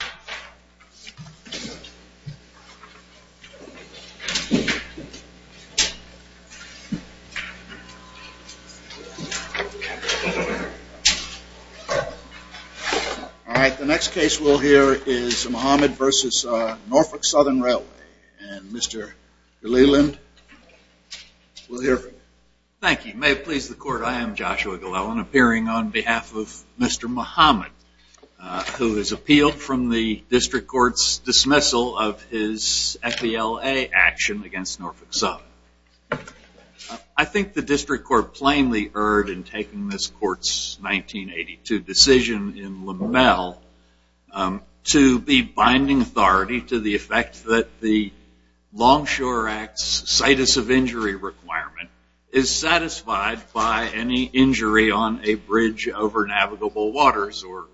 All right, the next case we'll hear is Muhammad v. Norfolk Southern Railway, and Mr. Ghaliland, we'll hear from you. Thank you. May it please the court, I am Joshua Ghaliland, appearing on behalf of Mr. Muhammad, who has appealed from the district court's dismissal of his FBLA action against Norfolk Southern. I think the district court plainly erred in taking this court's 1982 decision in Limmel to be binding authority to the effect that the Longshore Act's situs of injury requirement is satisfied by any injury on a bridge over navigable waters, or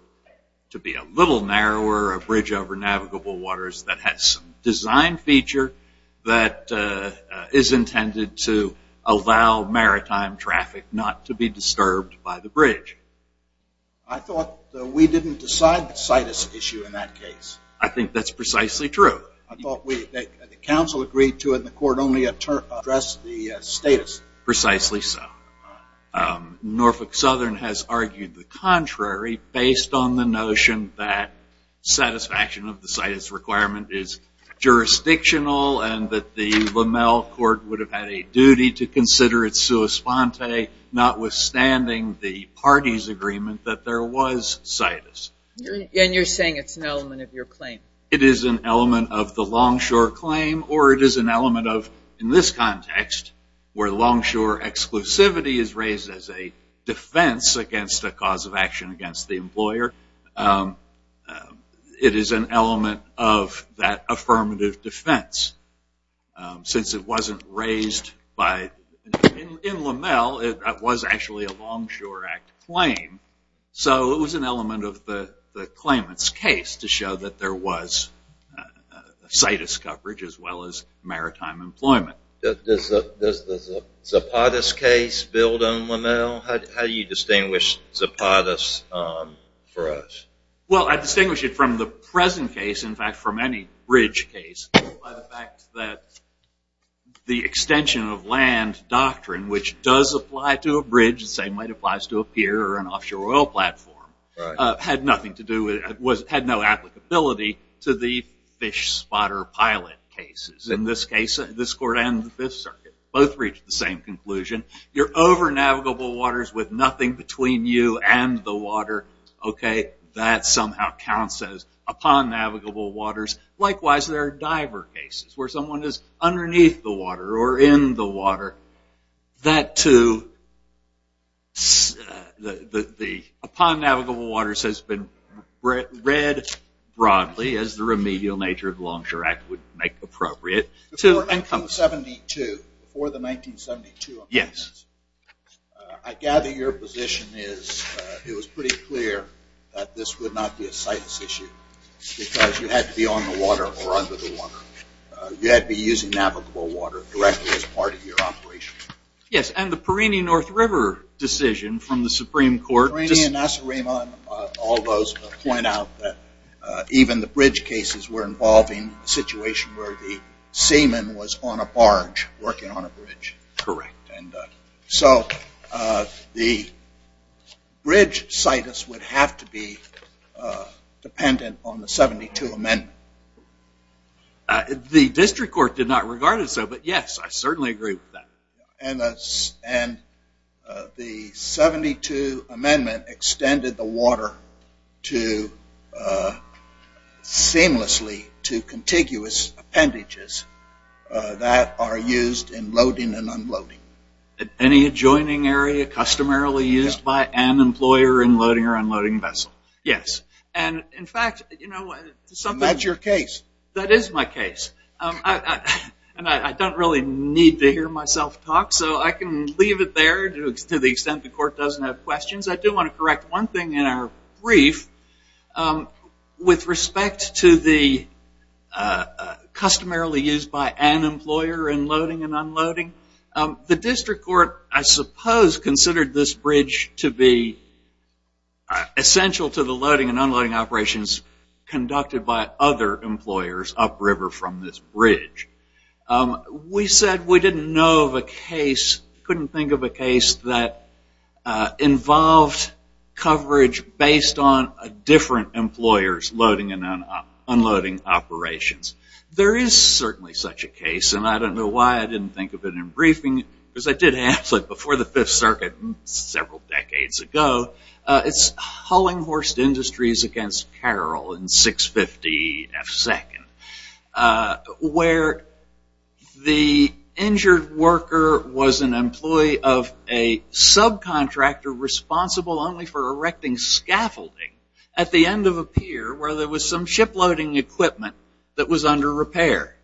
to be a little narrower, a bridge over navigable waters that has some design feature that is intended to allow maritime traffic not to be disturbed by the bridge. I thought that we didn't decide the situs issue in that case. I think that's precisely true. I thought the council agreed to it, and the court only addressed the status. Precisely so. Norfolk Southern has argued the contrary based on the notion that satisfaction of the situs requirement is jurisdictional, and that the Limmel court would have had a duty to consider its sua sponte, notwithstanding the party's agreement that there was situs. And you're saying it's an element of your claim. It is an element of the Longshore claim, or it is an element of, in this context, where Longshore exclusivity is raised as a defense against a cause of action against the employer, it is an element of that affirmative defense. Since it wasn't raised in Limmel, it was actually a Longshore Act claim, so it was an element of the claimant's case to show that there was situs coverage as well as maritime employment. Does the Zapatas case build on Limmel? How do you distinguish Zapatas for us? Well I distinguish it from the present case, in fact from any bridge case, by the fact that the extension of land doctrine, which does apply to a bridge the same way it applies to a pier or an offshore oil platform, had no applicability to the fish spotter pilot cases. In this case, this court and the Fifth Circuit both reached the same conclusion. You're over navigable waters with nothing between you and the water, okay, that somehow counts as upon navigable waters. Likewise, there are diver cases where someone is underneath the water or in the water. That too, upon navigable waters has been read broadly as the remedial nature of the Longshore Act would make appropriate. Before 1972, before the 1972 amendments, I gather your position is it was pretty clear that this would not be a situs issue because you had to be on the water or under the water. You had to be using navigable water directly as part of your operation. Yes, and the Perrini-North River decision from the Supreme Court... Perrini and Nacerima and all those point out that even the bridge cases were involving a situation where the seaman was on a barge working on a bridge. Correct. And so the bridge situs would have to be dependent on the 72 amendment. The district court did not regard it so, but yes, I certainly agree with that. And the 72 amendment extended the water to seamlessly, to contiguous appendages that are used in loading and unloading. Any adjoining area customarily used by an employer in loading or unloading vessel. Yes. And in fact, you know... That's your case. That is my case. And I don't really need to hear myself talk, so I can leave it there to the extent the court doesn't have questions. I do want to correct one thing in our brief. With respect to the customarily used by an employer in loading and unloading, the district court, I suppose, considered this bridge to be essential to the loading and unloading operations conducted by other employers upriver from this bridge. We said we didn't know of a case, couldn't think of a case that involved coverage based on a different employer's loading and unloading operations. There is certainly such a case, and I don't know why I didn't think of it in briefing, because I did have it before the Fifth Circuit several decades ago. It's Hullinghorst Industries against Carroll in 650 F2, where the injured worker was an employee of a subcontractor responsible only for erecting scaffolding at the end of a pier where there was some shiploading equipment that was under repair.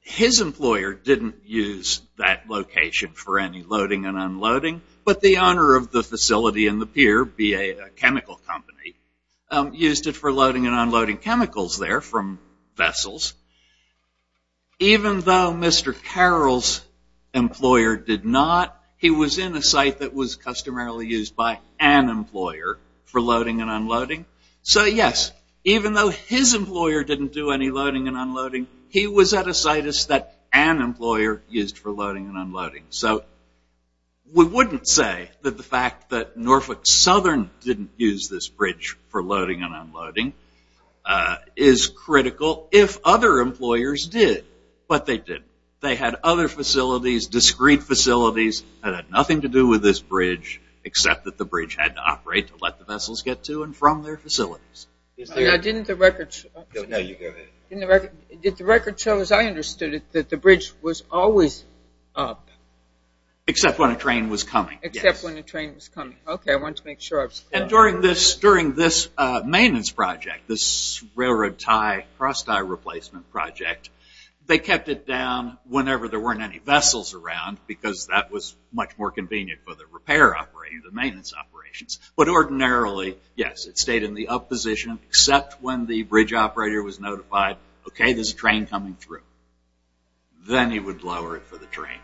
His employer didn't use that location for any loading and unloading, but the owner of the facility and the pier, a chemical company, used it for loading and unloading chemicals there from vessels. Even though Mr. Carroll's employer did not, he was in a site that was customarily used by an employer for loading and unloading. So yes, even though his employer didn't do any loading and unloading, he was at a site that an employer used for loading and unloading. So we wouldn't say that the fact that Norfolk Southern didn't use this bridge for loading and unloading is critical if other employers did. But they did. They had other facilities, discrete facilities that had nothing to do with this bridge, except that the bridge had to operate to let the vessels get to and from their facilities. Did the record show, as I understood it, that the bridge was always up? Except when a train was coming, yes. Except when a train was coming. Okay, I wanted to make sure I was clear. And during this maintenance project, this railroad tie, cross-tie replacement project, they kept it down whenever there weren't any vessels around because that was much more maintenance operations. But ordinarily, yes, it stayed in the up position, except when the bridge operator was notified, okay, there's a train coming through. Then he would lower it for the train.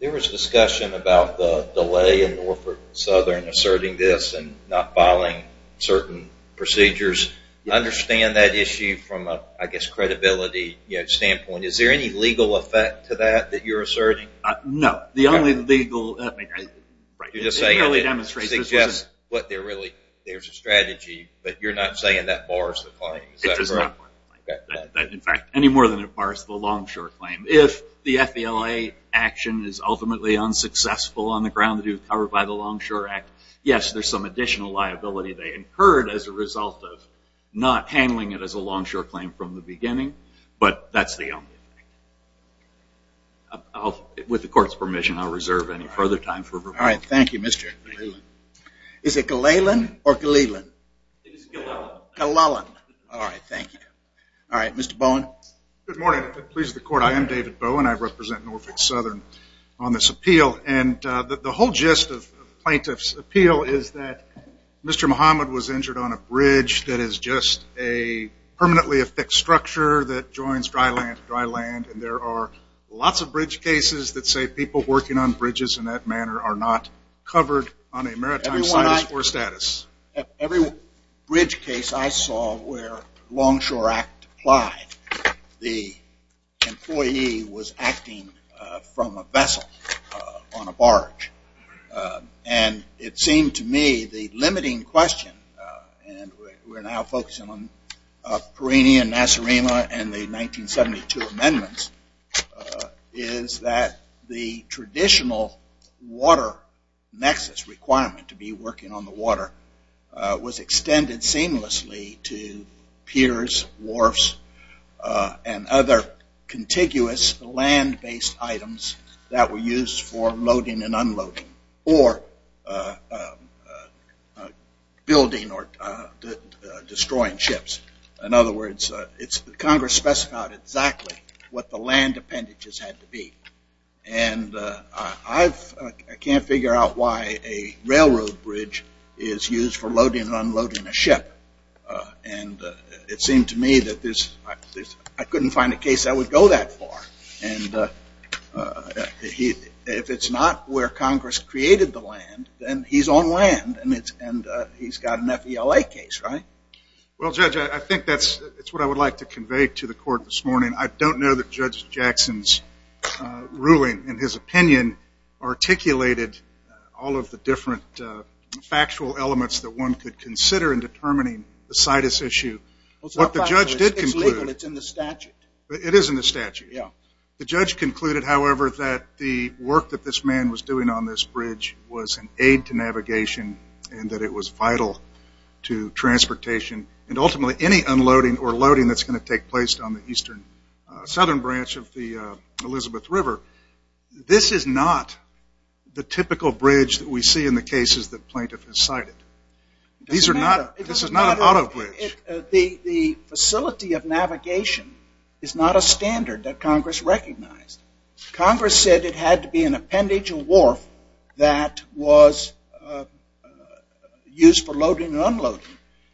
There was discussion about the delay in Norfolk Southern asserting this and not filing certain procedures. I understand that issue from a, I guess, credibility standpoint. Is there any legal effect to that that you're asserting? No. The only legal... You're just saying it suggests there's a strategy, but you're not saying that bars the claim. It does not bar the claim. In fact, any more than it bars the Longshore claim. If the FBLA action is ultimately unsuccessful on the ground that it was covered by the Longshore Act, yes, there's some additional liability they incurred as a result of not handling it as a Longshore claim from the beginning. But that's the only thing. With the court's permission, I'll reserve any further time for... All right. Thank you, Mr. Ghalelan. Is it Ghalelan or Ghalelan? It's Ghalelan. Ghalelan. All right. Thank you. All right. Mr. Bowen. Good morning. It pleases the court. I am David Bowen. I represent Norfolk Southern on this appeal. And the whole gist of the plaintiff's appeal is that Mr. Muhammad was injured on a bridge that is just a permanently affixed structure that joins dry land to dry land. And there are lots of bridge cases that say people working on bridges in that manner are not covered on a maritime status or status. Every bridge case I saw where Longshore Act applied, the employee was acting from a vessel on a barge. And it seemed to me the limiting question, and we're now focusing on Perini and Nasarema and the 1972 amendments, is that the traditional water nexus requirement to be working on the water was extended seamlessly to piers, wharfs, and other contiguous land-based items that were used for loading and unloading or building or destroying ships. In other words, Congress specified exactly what the land appendages had to be. And I can't figure out why a railroad bridge is used for loading and unloading a ship. And it seemed to me that I couldn't find a case that would go that far. And if it's not where Congress created the land, then he's on land and he's got an FELA case, right? Well, Judge, I think that's what I would like to convey to the court this morning. I don't know that Judge Jackson's ruling, in his opinion, articulated all of the different factual elements that one could consider in determining the situs issue. What the judge did conclude... It's legal. It's in the statute. It is in the statute. Yeah. The judge concluded, however, that the work that this man was doing on this bridge was an aid to navigation and that it was vital to transportation and ultimately any unloading or loading that's going to take place on the eastern southern branch of the Elizabeth River. This is not the typical bridge that we see in the cases that plaintiff has cited. These are not... It doesn't matter. This is not an auto bridge. The facility of navigation is not a standard that Congress recognized. Congress said it had to be an appendage or wharf that was used for loading and unloading.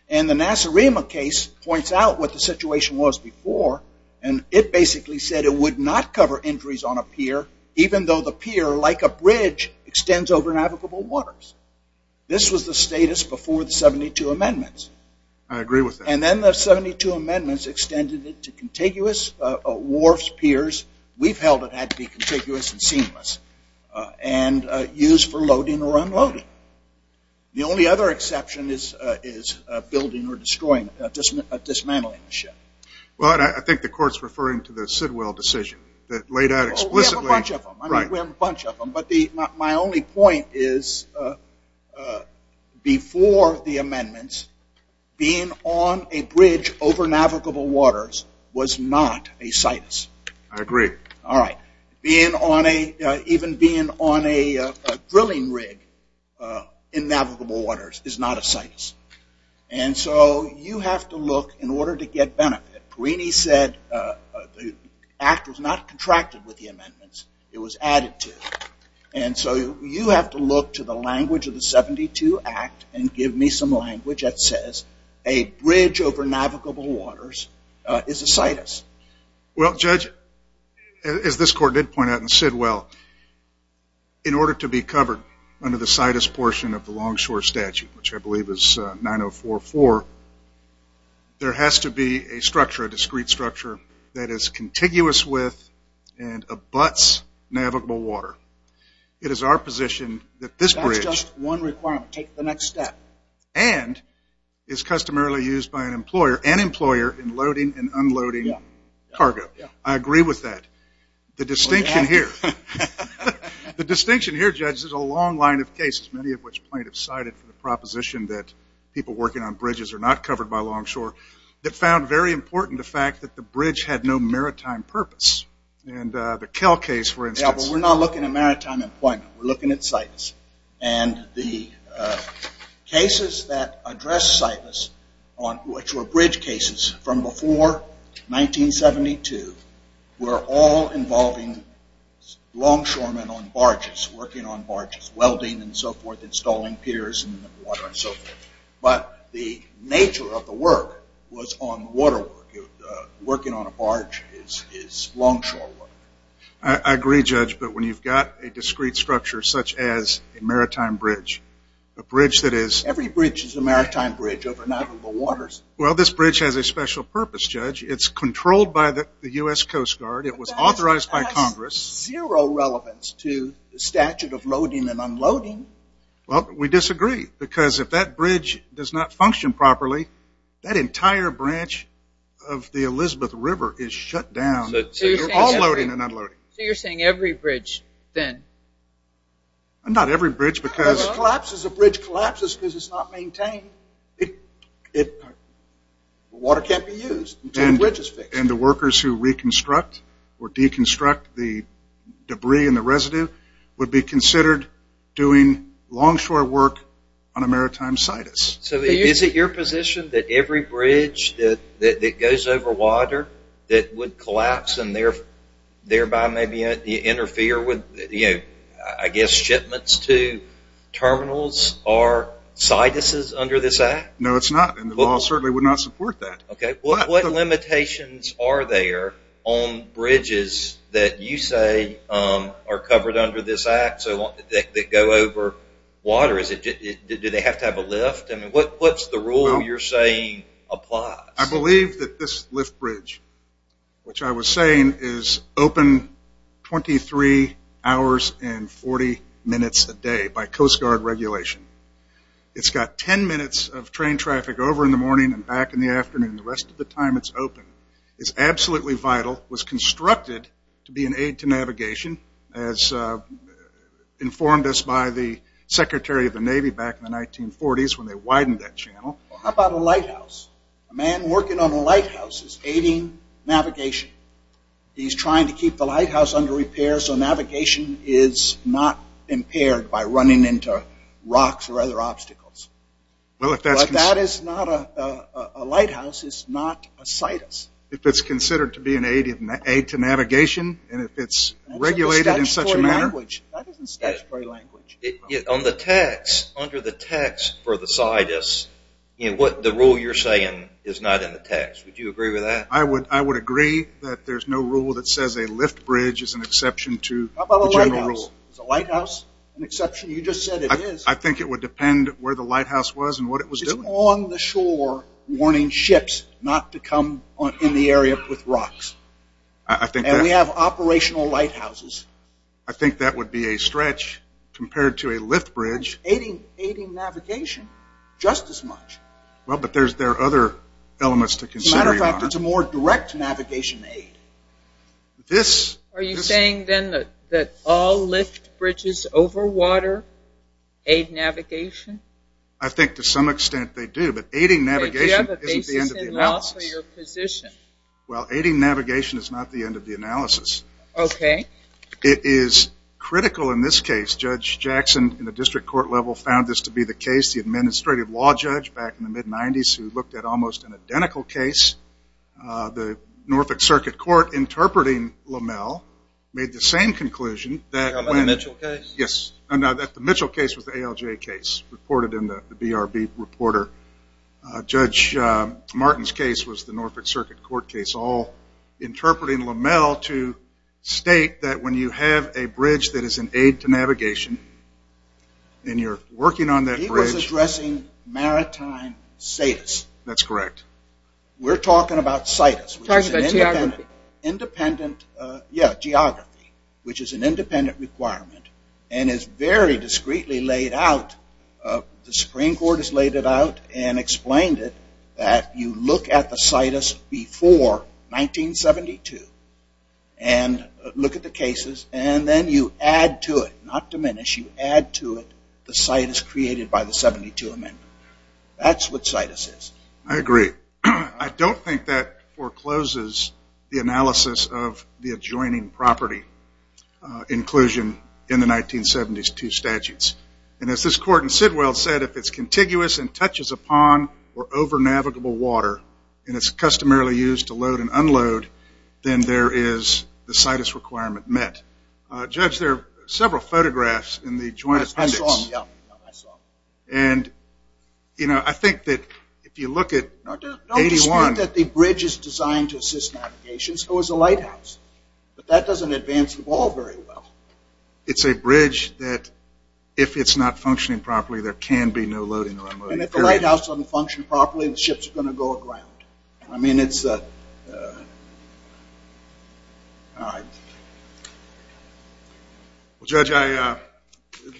And the Nassarima case points out what the situation was before and it basically said it would not cover injuries on a pier even though the pier, like a bridge, extends over navigable waters. This was the status before the 72 amendments. I agree with that. And then the 72 amendments extended it to contiguous wharfs, piers. We've held it had to be contiguous and seamless and used for loading or unloading. The only other exception is building or destroying, dismantling the ship. I think the court's referring to the Sidwell decision that laid out explicitly... We have a bunch of them. My only point is before the amendments, being on a bridge over navigable waters was not a situs. I agree. All right. Even being on a drilling rig in navigable waters is not a situs. And so you have to look in order to get benefit. It was added to. And so you have to look to the language of the 72 Act and give me some language that says a bridge over navigable waters is a situs. Well, Judge, as this court did point out in Sidwell, in order to be covered under the situs portion of the Longshore Statute, which I believe is 9044, there has to be a structure, a discrete structure, that is contiguous with and abuts navigable water. It is our position that this bridge... That's just one requirement. Take the next step. And is customarily used by an employer and employer in loading and unloading cargo. I agree with that. The distinction here... Well, you have to. The distinction here, Judge, is a long line of cases, many of which plaintiffs cited for the proposition that people working on bridges are not covered by Longshore, that found very important the fact that the bridge had no maritime purpose. And the Kell case, for instance... Yeah, but we're not looking at maritime employment. We're looking at situs. And the cases that address situs, which were bridge cases from before 1972, were all involving longshoremen on barges, working on barges, welding and so forth, installing piers in the water and so forth. But the nature of the work was on water work. Working on a barge is longshore work. I agree, Judge. But when you've got a discrete structure such as a maritime bridge, a bridge that is... Every bridge is a maritime bridge over navigable waters. Well, this bridge has a special purpose, Judge. It's controlled by the U.S. Coast Guard. It was authorized by Congress. That has zero relevance to the statute of loading and unloading. Well, we disagree. Because if that bridge does not function properly, that entire branch of the Elizabeth River is shut down. So you're saying every bridge, then? Not every bridge, because... Collapses. A bridge collapses because it's not maintained. Water can't be used until the bridge is fixed. Would be considered doing longshore work on a maritime situs. So is it your position that every bridge that goes over water that would collapse and thereby maybe interfere with, I guess, shipments to terminals are situses under this act? No, it's not. And the law certainly would not support that. What limitations are there on bridges that you say are covered under this act that go over water? Do they have to have a lift? What's the rule you're saying applies? I believe that this lift bridge, which I was saying, is open 23 hours and 40 minutes a day by Coast Guard regulation. It's got 10 minutes of train traffic over in the morning and back in the afternoon. The rest of the time it's open. It's absolutely vital. It was constructed to be an aid to navigation as informed us by the Secretary of the Navy back in the 1940s when they widened that channel. How about a lighthouse? A man working on a lighthouse is aiding navigation. He's trying to keep the lighthouse under repair so navigation is not impaired by running into rocks or other obstacles. But that is not a lighthouse. It's not a situs. If it's considered to be an aid to navigation and if it's regulated in such a manner? That isn't statutory language. On the tax, under the tax for the situs, the rule you're saying is not in the tax. Would you agree with that? I would agree that there's no rule that says a lift bridge is an exception to the general rule. How about a lighthouse? Is a lighthouse an exception? You just said it is. I think it would depend where the lighthouse was and what it was doing. It's on the shore warning ships not to come in the area with rocks. And we have operational lighthouses. I think that would be a stretch compared to a lift bridge. It's aiding navigation just as much. But there are other elements to consider. As a matter of fact, it's a more direct navigation aid. Are you saying then that all lift bridges over water aid navigation? I think to some extent they do. But aiding navigation isn't the end of the analysis. Well, aiding navigation is not the end of the analysis. It is critical in this case. Judge Jackson in the district court level found this to be the case. He was the administrative law judge back in the mid-90s who looked at almost an identical case. The Norfolk Circuit Court interpreting Lommel made the same conclusion. The Mitchell case? Yes. The Mitchell case was the ALJ case reported in the BRB reporter. Judge Martin's case was the Norfolk Circuit Court case. All interpreting Lommel to state that when you have a bridge that is an aid to navigation, and you're working on that bridge. He was addressing maritime status. That's correct. We're talking about situs. Talking about geography. Yeah, geography, which is an independent requirement and is very discreetly laid out. The Supreme Court has laid it out and explained it, that you look at the situs before 1972 and look at the cases, and then you add to it, not diminish, you add to it the situs created by the 72 amendment. That's what situs is. I agree. I don't think that forecloses the analysis of the adjoining property inclusion in the 1972 statutes. As this court in Sidwell said, if it's contiguous and touches a pond or over navigable water, and it's customarily used to load and unload, then there is the situs requirement met. Judge, there are several photographs in the joint appendix. I saw them, yeah. I think that if you look at 81. Don't dispute that the bridge is designed to assist navigation, so is the lighthouse. But that doesn't advance the ball very well. It's a bridge that if it's not functioning properly, there can be no loading or unloading. And if the lighthouse doesn't function properly, the ships are going to go aground. I mean, it's a... All right. Well, Judge,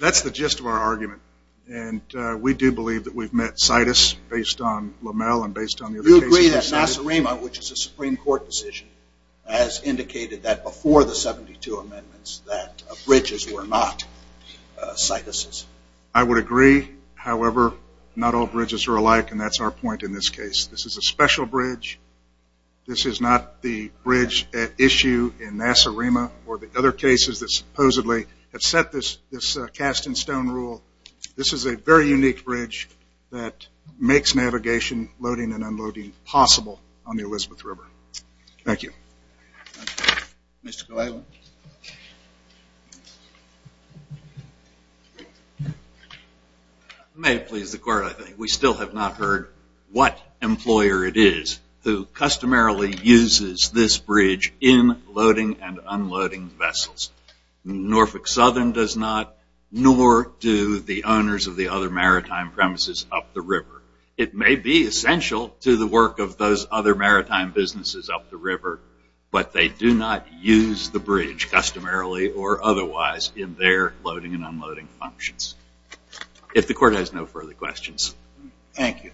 that's the gist of our argument. And we do believe that we've met situs based on Lommel and based on the other cases. You agree that Nacerima, which is a Supreme Court decision, has indicated that before the 72 amendments that bridges were not situses? I would agree. However, not all bridges are alike, and that's our point in this case. This is a special bridge. This is not the bridge at issue in Nacerima or the other cases that supposedly have set this cast in stone rule. This is a very unique bridge that makes navigation, loading and unloading, possible on the Elizabeth River. Thank you. Mr. Cleveland. May it please the court, I think, we still have not heard what employer it is who customarily uses this bridge in loading and unloading vessels. Norfolk Southern does not, nor do the owners of the other maritime premises up the river. It may be essential to the work of those other maritime businesses up the river, but they do not use the bridge customarily or otherwise in their loading and unloading functions. If the court has no further questions. Thank you.